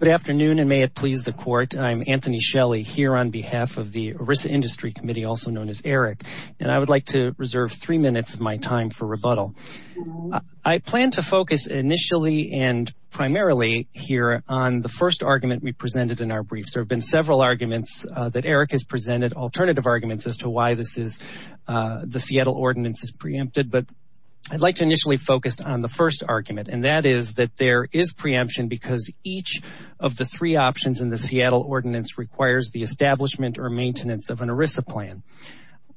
Good afternoon and may it please the court. I'm Anthony Shelley here on behalf of the ERISA Industry Committee also known as ERIC and I would like to reserve three minutes of my time for rebuttal. I plan to focus initially and primarily here on the first argument we presented in our briefs. There have been several arguments that ERIC has presented, alternative arguments as to why this is the Seattle ordinance is preempted but I'd like to initially focused on the first argument and that is that there is preemption because each of the three options in the Seattle ordinance requires the establishment or maintenance of an ERISA plan.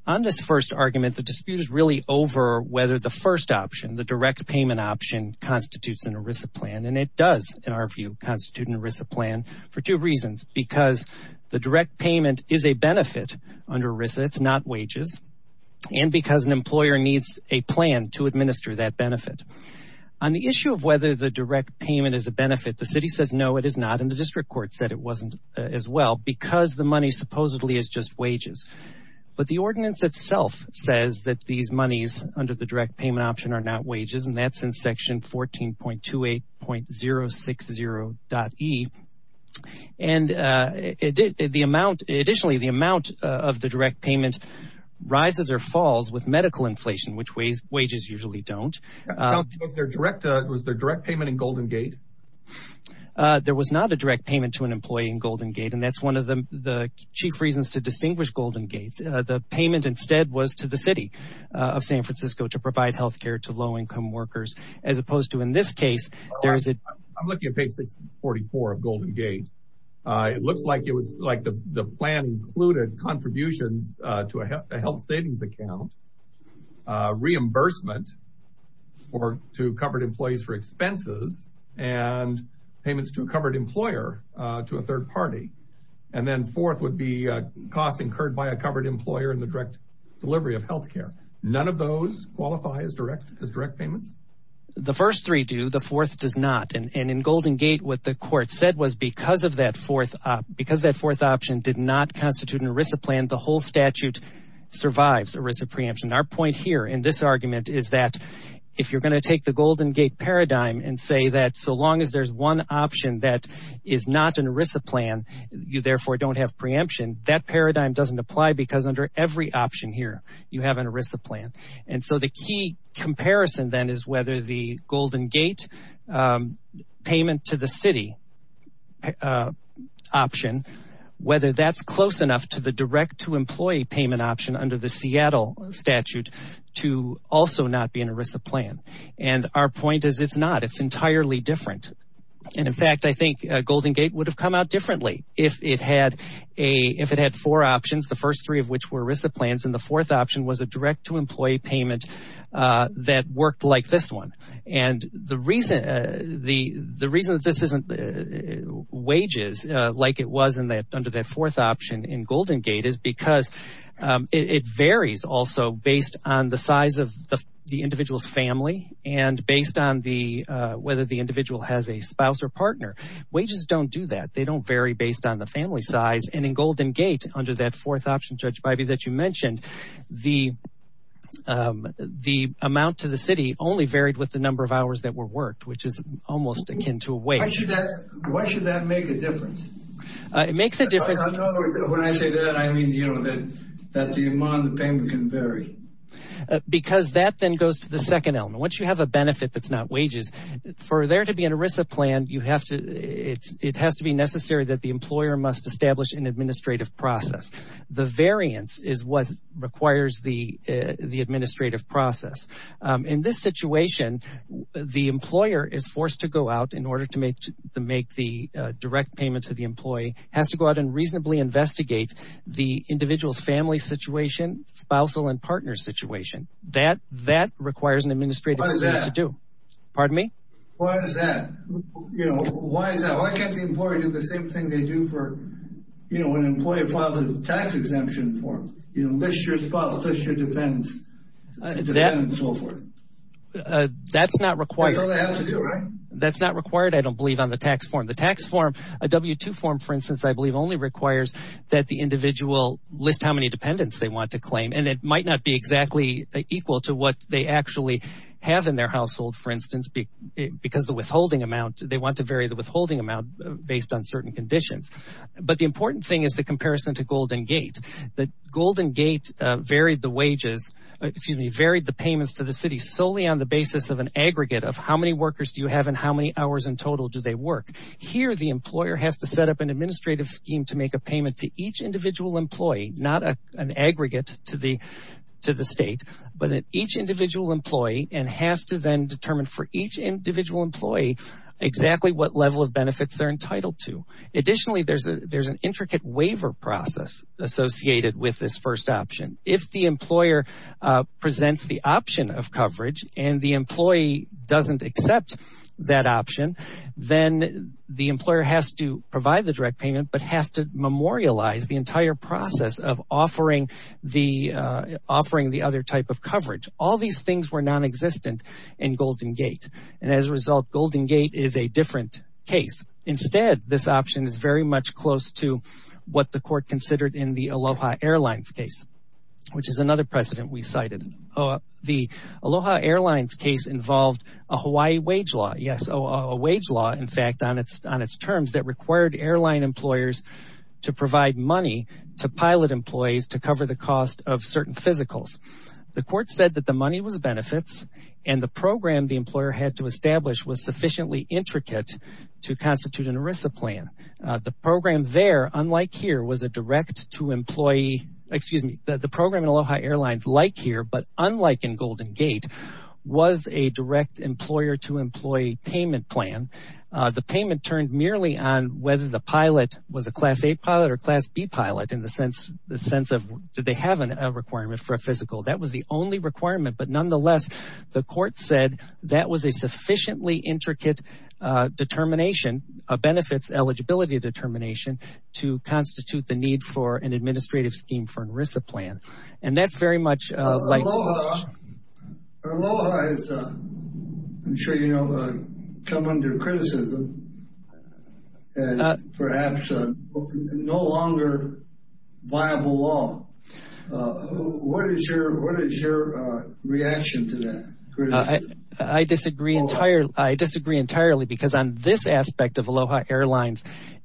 On this first argument the dispute is really over whether the first option the direct payment option constitutes an ERISA plan and it does in our view constitute an ERISA plan for two reasons because the direct payment is a benefit under ERISA it's not wages and because an employer needs a plan to administer that benefit. On the issue of whether the direct payment is a benefit the city says no it is not and the district court said it wasn't as well because the money supposedly is just wages but the ordinance itself says that these monies under the direct payment option are not wages and that's in section 14.28.060.E and it did the amount additionally the amount of the direct payment rises or falls with medical inflation which wages usually don't. Was there direct payment in Golden Gate? There was not a direct payment to an employee in Golden Gate and that's one of the chief reasons to distinguish Golden Gate. The payment instead was to the city of San Francisco to provide health care to low-income workers as opposed to in this case. I'm looking at page 644 of Golden Gate it looks like it was like the plan included contributions to a health savings account reimbursement or to covered employees for expenses and payments to a covered employer to a third party and then fourth would be costs incurred by a covered employer in the direct delivery of health care. None of those qualify as direct as direct payments? The first three do the fourth does not and in Golden Gate what the court said was because of that fourth because that fourth option did not constitute an ERISA plan the whole statute survives ERISA preemption. Our point here in this argument is that if you're going to take the Golden Gate paradigm and say that so long as there's one option that is not an ERISA plan you therefore don't have preemption that paradigm doesn't apply because under every option here you have an ERISA plan and so the key comparison then is whether the Golden Gate payment to the city option whether that's close to the direct to employee payment option under the Seattle statute to also not be an ERISA plan and our point is it's not it's entirely different and in fact I think Golden Gate would have come out differently if it had a if it had four options the first three of which were ERISA plans and the fourth option was a direct to employee payment that worked like this one and the reason the the reason that this isn't wages like it was in that under that fourth option in Golden Gate is because it varies also based on the size of the individual's family and based on the whether the individual has a spouse or partner wages don't do that they don't vary based on the family size and in Golden Gate under that fourth option Judge Biby that you mentioned the the amount to the city only varied with the number of hours that were worked which is almost akin to wage. Why should that make a difference? It makes a difference. When I say that I mean you know that that the amount of the payment can vary. Because that then goes to the second element once you have a benefit that's not wages for there to be an ERISA plan you have to it's it has to be necessary that the employer must establish an administrative process the variance is what requires the the administrative process in this situation the employer is forced to go out in order to make to make the direct payment to the employee has to go out and reasonably investigate the individual's family situation spousal and partner situation that that requires an administrative to do pardon me why is that you know why is that why can't the employer do the same thing they do for you know when an employer files a tax exemption for you know that's not required that's not required I don't believe on the tax form the tax form a w-2 form for instance I believe only requires that the individual list how many dependents they want to claim and it might not be exactly equal to what they actually have in their household for instance because the withholding amount they want to vary the withholding amount based on certain conditions but the important thing is the comparison to Golden Gate the Golden Gate varied the wages excuse me varied the payments to the city solely on the basis of an aggregate of how many workers do you have in how many hours in total do they work here the employer has to set up an administrative scheme to make a payment to each individual employee not a an aggregate to the to the state but at each individual employee and has to then determine for each individual employee exactly what level of benefits they're entitled to additionally there's a there's an intricate waiver process associated with this first option if the employer presents the option of coverage and the employee doesn't accept that option then the employer has to provide the direct payment but has to memorialize the entire process of offering the offering the other type of coverage all these things were non-existent in Golden Gate and as a result Golden Gate is a different case instead this option is much close to what the court considered in the Aloha Airlines case which is another precedent we cited the Aloha Airlines case involved a Hawaii wage law yes a wage law in fact on its on its terms that required airline employers to provide money to pilot employees to cover the cost of certain physicals the court said that the money was benefits and the program the employer had to program there unlike here was a direct to employee excuse me the program in Aloha Airlines like here but unlike in Golden Gate was a direct employer to employee payment plan the payment turned merely on whether the pilot was a class a pilot or class B pilot in the sense the sense of did they have a requirement for a physical that was the only requirement but nonetheless the court said that was a sufficiently intricate determination of benefits eligibility determination to constitute the need for an administrative scheme for an ERISA plan and that's very much like Aloha has come under criticism and perhaps no longer viable law what is your what is your reaction to that? I disagree entirely I disagree entirely because on this aspect of Aloha Airlines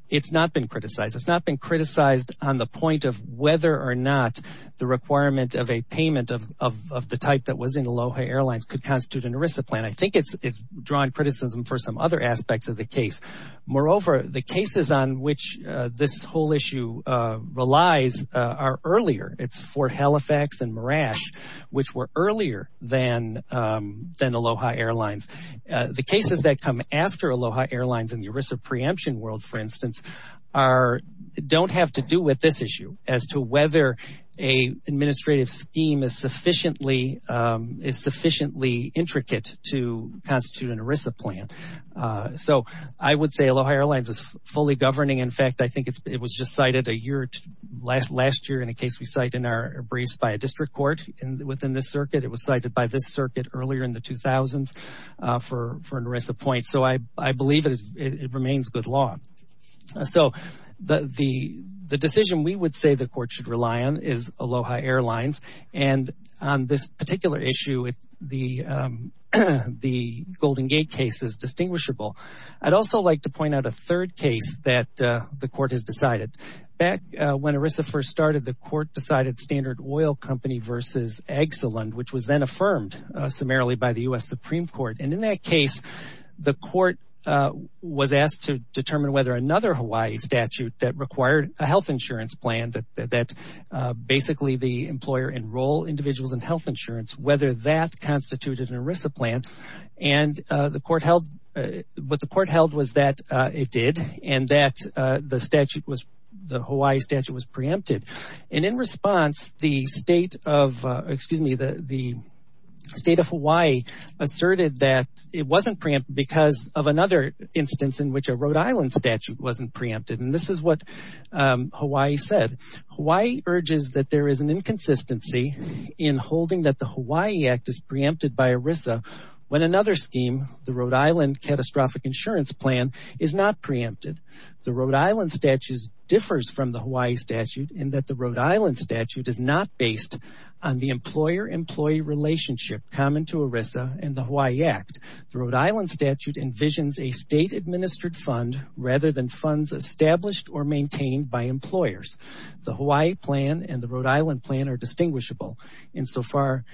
it's not been criticized it's not been criticized on the point of whether or not the requirement of a payment of the type that was in Aloha Airlines could constitute an ERISA plan I think it's drawing criticism for some other aspects of the case moreover the cases on which this whole issue relies are earlier it's for Halifax and Mirage which were earlier than Aloha Airlines the cases that come after Aloha Airlines in the ERISA preemption world for instance are don't have to do with this issue as to whether a administrative scheme is sufficiently is sufficiently intricate to constitute an ERISA plan so I would say Aloha Airlines is fully governing in fact I think it's it was just cited a year last last year in a case we cite in our briefs by a district court and within this circuit it was cited by this circuit earlier in the 2000s for for an ERISA point so I I believe it remains good law so the the the decision we would say the court should rely on is Aloha Airlines and on this particular issue with the the Golden Gate case is distinguishable I'd also like to point out a third case that the court has decided back when ERISA first started the court decided Standard Oil Company versus Exelon which was then affirmed summarily by the US Supreme Court and in that case the court was asked to determine whether another Hawaii statute that required a health insurance plan that that basically the employer enroll individuals in health insurance whether that constituted an ERISA plan and the court held what the court held was that it did and that the statute was the Hawaii statute was State of Hawaii asserted that it wasn't preempt because of another instance in which a Rhode Island statute wasn't preempted and this is what Hawaii said why urges that there is an inconsistency in holding that the Hawaii Act is preempted by ERISA when another scheme the Rhode Island catastrophic insurance plan is not preempted the Rhode Island statues differs from the Hawaii statute and that the Rhode Island statute is not based on the employer employee relationship common to ERISA and the Hawaii Act the Rhode Island statute envisions a state administered fund rather than funds established or maintained by employers the Hawaii plan and the Rhode Island plan are distinguishable insofar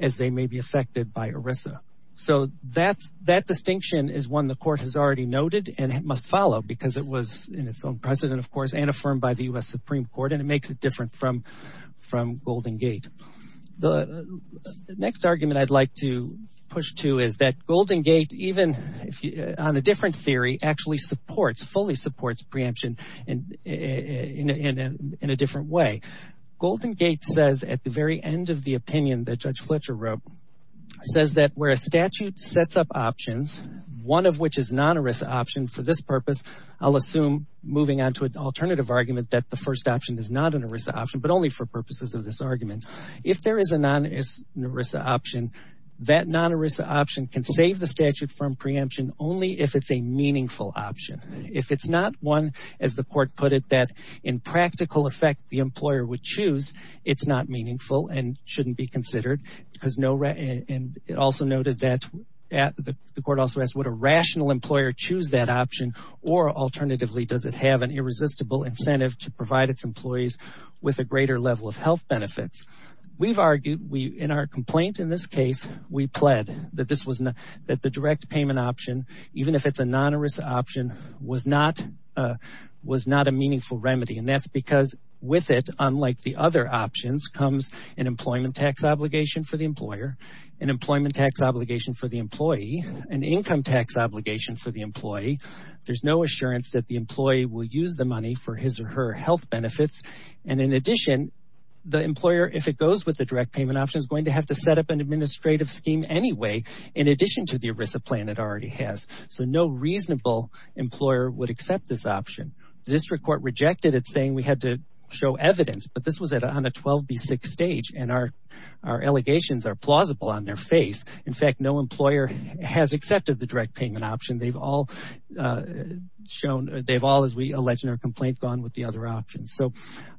as they may be affected by ERISA so that's that distinction is one the court has already noted and it must follow because it was in its own precedent of course and affirmed by the US Supreme Court and it next argument I'd like to push to is that Golden Gate even if you on a different theory actually supports fully supports preemption and in a different way Golden Gate says at the very end of the opinion that Judge Fletcher wrote says that where a statute sets up options one of which is not a risk option for this purpose I'll assume moving on to an alternative argument that the first option is not an ERISA option but only for purposes of this option that non ERISA option can save the statute from preemption only if it's a meaningful option if it's not one as the court put it that in practical effect the employer would choose it's not meaningful and shouldn't be considered because no right and it also noted that at the court also asked what a rational employer choose that option or alternatively does it have an irresistible incentive to provide its employees with a greater level of health benefits we've argued we in our complaint in this case we pled that this was not that the direct payment option even if it's a non ERISA option was not was not a meaningful remedy and that's because with it unlike the other options comes an employment tax obligation for the employer an employment tax obligation for the employee an income tax obligation for the employee there's no assurance that the employee will use the money for his or her health benefits and in addition the employer if it goes with the direct payment option is going to have to set up an administrative scheme anyway in addition to the ERISA plan it already has so no reasonable employer would accept this option this record rejected it saying we had to show evidence but this was it on a 12b6 stage and our our allegations are plausible on their face in fact no employer has accepted the direct payment option they've all shown they've all as we legendary complaint gone with the other options so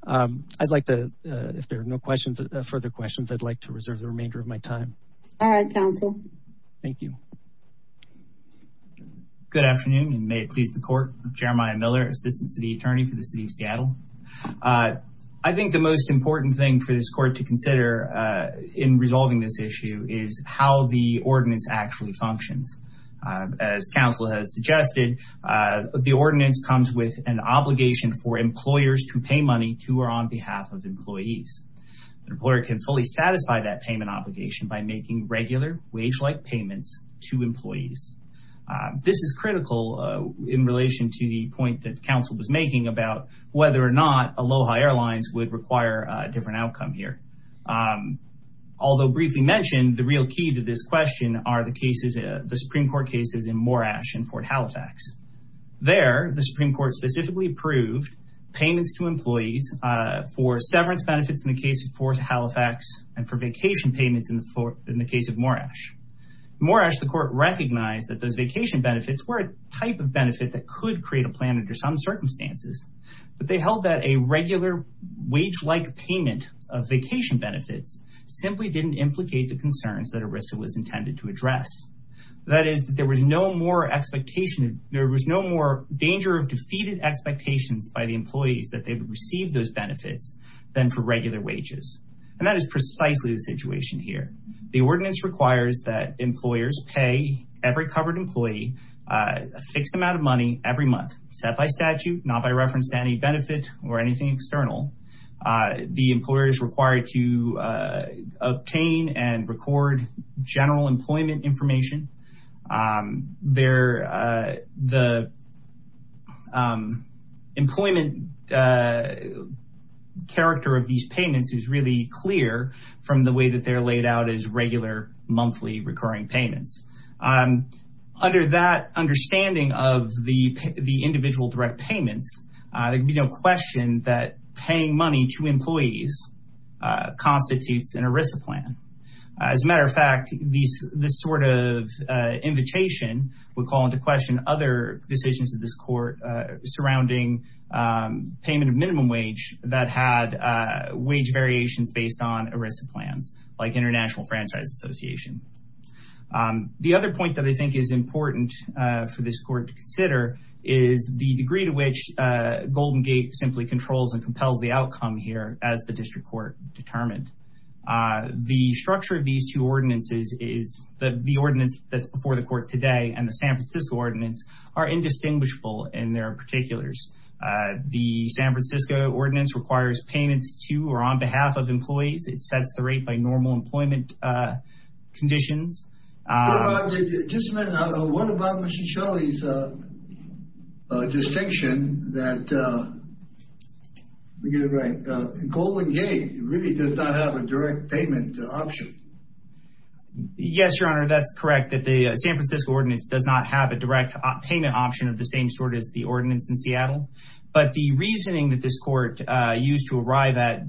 I'd like to if there are no questions further questions I'd like to reserve the remainder of my time all right counsel thank you good afternoon and may it please the court Jeremiah Miller assistant city attorney for the city of Seattle I think the most important thing for this court to consider in resolving this issue is how the ordinance actually functions as counsel has suggested the ordinance comes with an obligation for employers to pay money to or on behalf of employees the employer can fully satisfy that payment obligation by making regular wage-like payments to employees this is critical in relation to the point that counsel was making about whether or not Aloha Airlines would require a different outcome here although briefly mentioned the real key to this question are the cases the Supreme Court cases in Morash and Fort Halifax there the Supreme Court specifically approved payments to employees for severance benefits in the case of Fort Halifax and for vacation payments in the floor in the case of Moresh Moresh the court recognized that those vacation benefits were a type of benefit that could create a plan under some circumstances but they held that a regular wage-like payment of vacation benefits simply didn't implicate the concerns that Arisa was intended to there was no more danger of defeated expectations by the employees that they've received those benefits than for regular wages and that is precisely the situation here the ordinance requires that employers pay every covered employee a fixed amount of money every month set by statute not by reference to any benefit or anything external the employers required to obtain and record general employment information there the employment character of these payments is really clear from the way that they're laid out as regular monthly recurring payments under that understanding of the individual direct payments there'd be no question that paying money to employees constitutes an Arisa plan as a matter of fact these this sort of invitation would call into question other decisions of this court surrounding payment of minimum wage that had wage variations based on Arisa plans like International Franchise Association the other point that I think is important for this court to consider is the degree to which Golden Gate simply controls and compels the outcome here as the district court determined the structure of these two ordinances is that the ordinance that's before the court today and the San Francisco ordinance are indistinguishable in their particulars the San Francisco ordinance requires payments to or on behalf of employees it sets the rate by normal yes your honor that's correct that the San Francisco ordinance does not have a direct payment option of the same sort as the ordinance in Seattle but the reasoning that this court used to arrive at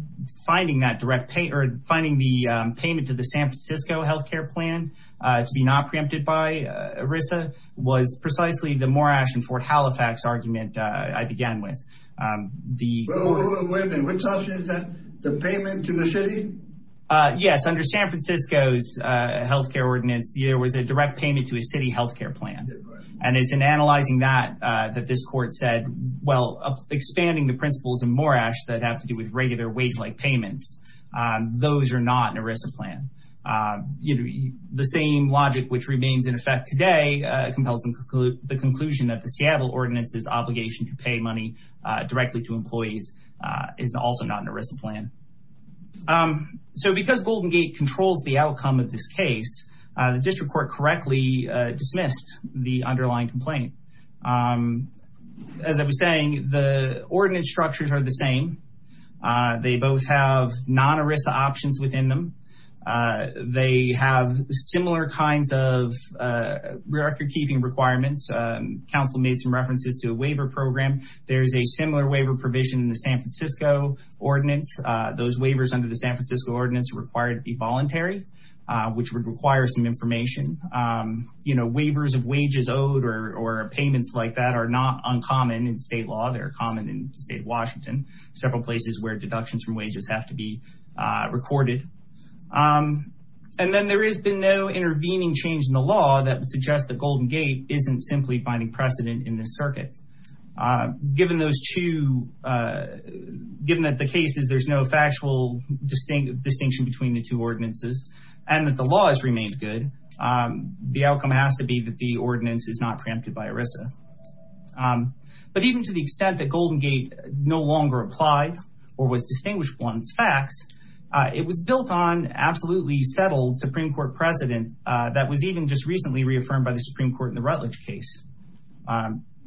finding that direct pay or finding the payment to the San Francisco health care plan to be not preempted by Arisa was precisely the Morash and Fort Halifax argument I began with the payment to the city yes under San Francisco's health care ordinance there was a direct payment to a city health care plan and it's in analyzing that that this court said well expanding the principles in Morash that have to do with regular wage-like payments those are not in Arisa plan you know the same logic which remains in effect today compels include the conclusion that the Seattle ordinance is obligation to pay money directly to employees is also not an Arisa plan so because Golden Gate controls the outcome of this case the district court correctly dismissed the underlying complaint as I was saying the ordinance structures are the same they both have non Arisa options within them they have similar kinds of record-keeping requirements council made some references to a waiver program there's a similar waiver provision in the San Francisco ordinance those waivers under the San Francisco ordinance required to be voluntary which would require some information you know waivers of wages owed or payments like that are not uncommon in state law they're common in state of Washington several places where deductions from recorded and then there has been no intervening change in the law that would suggest that Golden Gate isn't simply binding precedent in this circuit given those two given that the case is there's no factual distinct distinction between the two ordinances and that the law has remained good the outcome has to be that the ordinance is not preempted by Arisa but even to the extent that longer applied or was distinguished ones facts it was built on absolutely settled Supreme Court precedent that was even just recently reaffirmed by the Supreme Court in the Rutledge case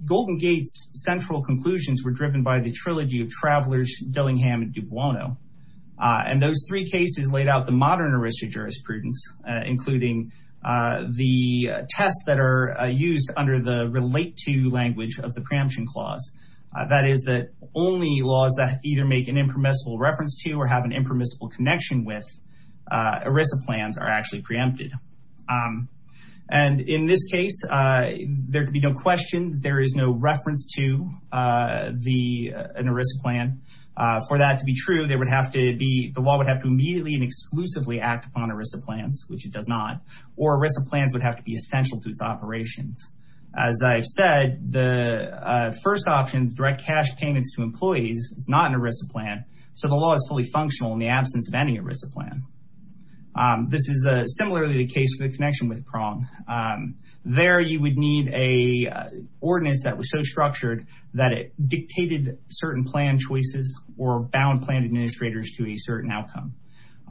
Golden Gates central conclusions were driven by the trilogy of travelers Dillingham and Dubuono and those three cases laid out the modern Arisa jurisprudence including the tests that are used under the relate to language of the preemption clause that is that only laws that either make an impermissible reference to or have an impermissible connection with Arisa plans are actually preempted and in this case there could be no question there is no reference to the an Arisa plan for that to be true they would have to be the law would have to immediately and exclusively act upon Arisa plans which it does not or Arisa plans would have to be essential to its it's not an Arisa plan so the law is fully functional in the absence of any Arisa plan this is a similarly the case for the connection with prong there you would need a ordinance that was so structured that it dictated certain plan choices or bound plan administrators to a certain outcome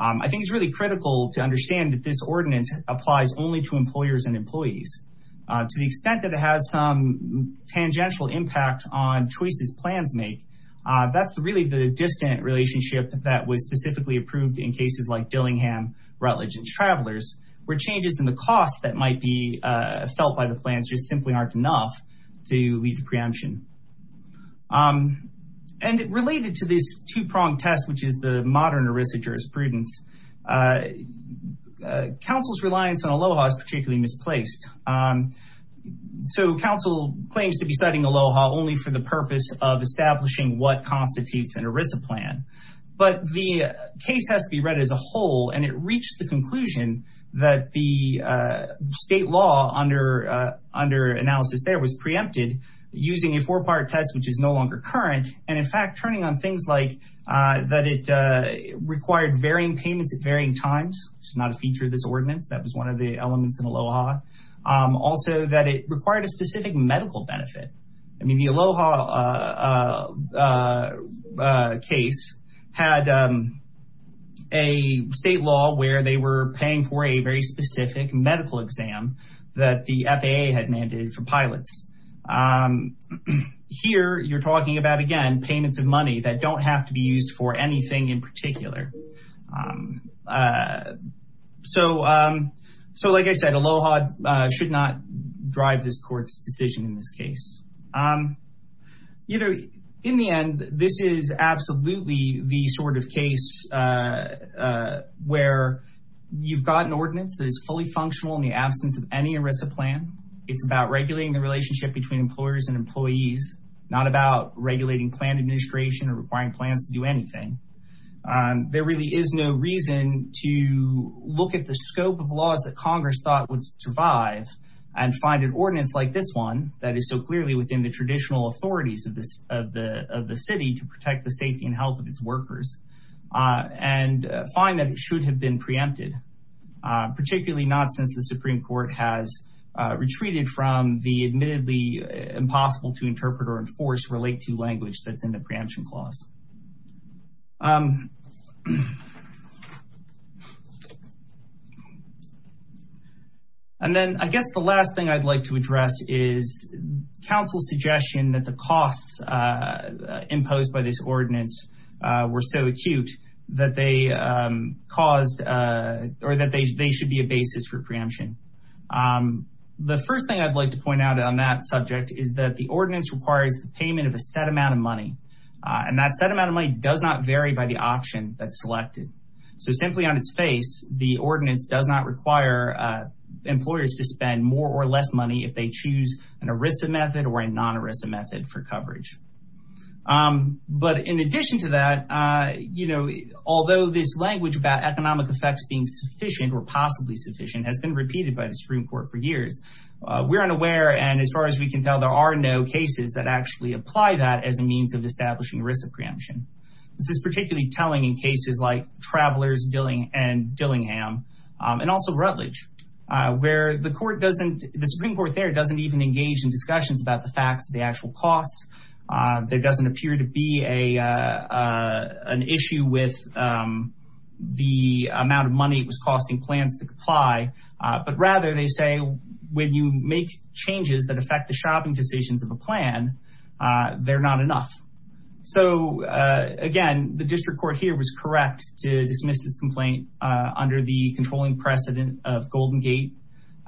I think it's really critical to understand that this ordinance applies only to employers and employees to the extent that it has some tangential impact on choices plans make that's really the distant relationship that was specifically approved in cases like Dillingham Rutledge and travelers where changes in the cost that might be felt by the plans just simply aren't enough to lead to preemption and it related to this two-pronged test which is the modern Arisa jurisprudence council's reliance on Aloha is particularly misplaced so council claims to be studying Aloha only for the purpose of establishing what constitutes an Arisa plan but the case has to be read as a whole and it reached the conclusion that the state law under under analysis there was preempted using a four-part test which is no longer current and in fact turning on things like that it required varying payments at varying times it's not a feature of this ordinance that was one of the elements in Aloha also that it required a specific medical benefit I mean the Aloha case had a state law where they were paying for a very specific medical exam that the FAA had mandated for pilots here you're talking about again payments of money that don't have to be used for anything in particular so so like I said Aloha should not drive this court's decision in this case you know in the end this is absolutely the sort of case where you've got an ordinance that is fully functional in the absence of any Arisa plan it's about regulating the relationship between employers and employees not about regulating plan administration or requiring plans to do anything there really is no reason to look at the scope of laws that Congress thought would survive and find an ordinance like this one that is so clearly within the traditional authorities of this of the of the city to protect the safety and health of its workers and find that it should have been preempted particularly not since the Supreme Court has retreated from the admittedly impossible to interpret or enforce relate to language that's in the and then I guess the last thing I'd like to address is counsel suggestion that the costs imposed by this ordinance were so acute that they caused or that they should be a basis for preemption the first thing I'd like to point out on that subject is that the ordinance requires the payment of a set amount of money and that set amount of money does not vary by the option that's selected so simply on its face the ordinance does not require employers to spend more or less money if they choose an Arisa method or a non Arisa method for coverage but in addition to that you know although this language about economic effects being sufficient or possibly sufficient has been repeated by the Supreme Court for years we're unaware and as far as we can tell there are no cases that actually apply that as a means of establishing risk of travelers doing and Dillingham and also Rutledge where the court doesn't the Supreme Court there doesn't even engage in discussions about the facts of the actual costs there doesn't appear to be a an issue with the amount of money it was costing plans to comply but rather they say when you make changes that affect the shopping decisions of a plan they're not enough so again the district court here was correct to dismiss this complaint under the controlling precedent of Golden Gate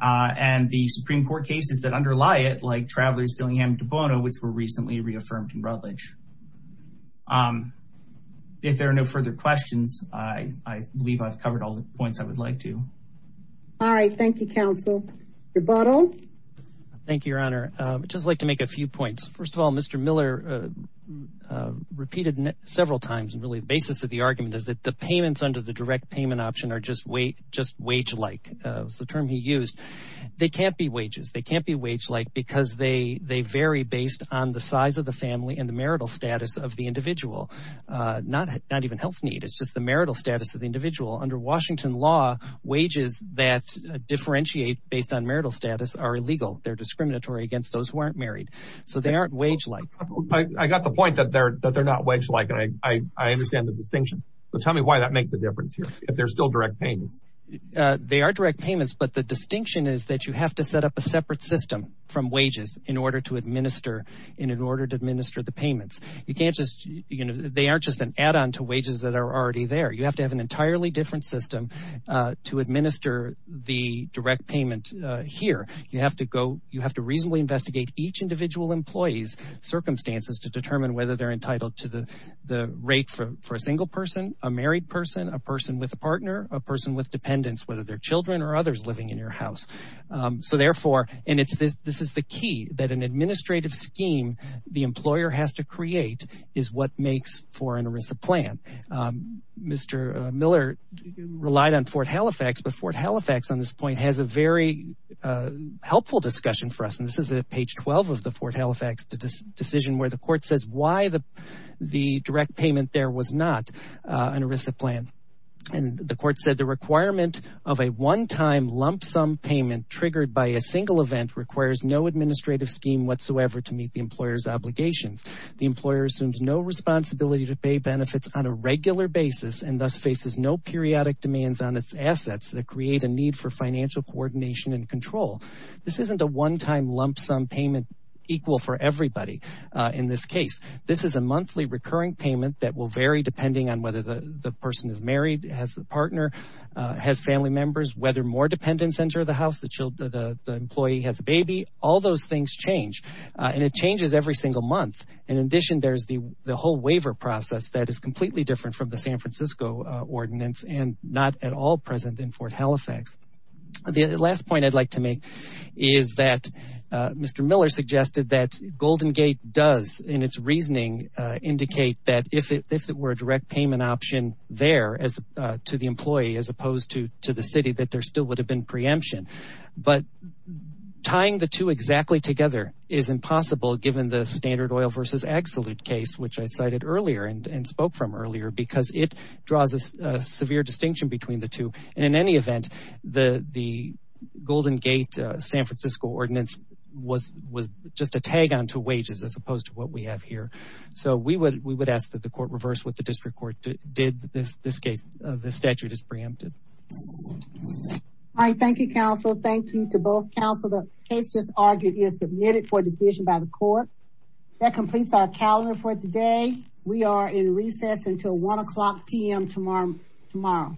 and the Supreme Court cases that underlie it like travelers doing him to Bono which were recently reaffirmed in Rutledge if there are no further questions I believe I've covered all the points I would like to all right thank you counsel your bottle thank you your honor just like to make a few points first of all mr. Miller repeated several times and really the basis of the argument is that the payments under the direct payment option are just wait just wage like the term he used they can't be wages they can't be wage like because they they vary based on the size of the family and the marital status of the individual not not even health need it's just the marital status of the individual under Washington law wages that differentiate based on marital status are illegal they're discriminatory against those who aren't married so they aren't wage like I got the point that they're that they're wage like and I understand the distinction so tell me why that makes a difference here if there's still direct payments they are direct payments but the distinction is that you have to set up a separate system from wages in order to administer in an order to administer the payments you can't just you know they aren't just an add-on to wages that are already there you have to have an entirely different system to administer the direct payment here you have to go you have to reasonably investigate each individual employees circumstances to the the rate for a single person a married person a person with a partner a person with dependents whether they're children or others living in your house so therefore and it's this this is the key that an administrative scheme the employer has to create is what makes for an erisa plan mr. Miller relied on Fort Halifax but Fort Halifax on this point has a very helpful discussion for us and this is a page 12 of the Fort Halifax to this decision where the court says why the the direct payment there was not an erisa plan and the court said the requirement of a one-time lump-sum payment triggered by a single event requires no administrative scheme whatsoever to meet the employers obligations the employer assumes no responsibility to pay benefits on a regular basis and thus faces no periodic demands on its assets that create a need for financial coordination and control this isn't a one-time lump-sum payment equal for everybody in this case this is a monthly recurring payment that will vary depending on whether the the person is married has the partner has family members whether more dependents enter the house the children the employee has a baby all those things change and it changes every single month in addition there's the the whole waiver process that is completely different from the San Francisco ordinance and not at all present in Fort Halifax the last point I'd like to make is that mr. Miller suggested that Golden Gate does in its reasoning indicate that if it were a direct payment option there as to the employee as opposed to to the city that there still would have been preemption but tying the two exactly together is impossible given the standard oil versus ag salute case which I cited earlier and spoke from earlier because it draws a distinction between the two and in any event the the Golden Gate San Francisco ordinance was was just a tag-on to wages as opposed to what we have here so we would we would ask that the court reverse what the district court did this this case the statute is preempted I thank you counsel thank you to both counsel the case just argued is submitted for decision by the court that completes our calendar for today we are in recess until 1 o'clock p.m. tomorrow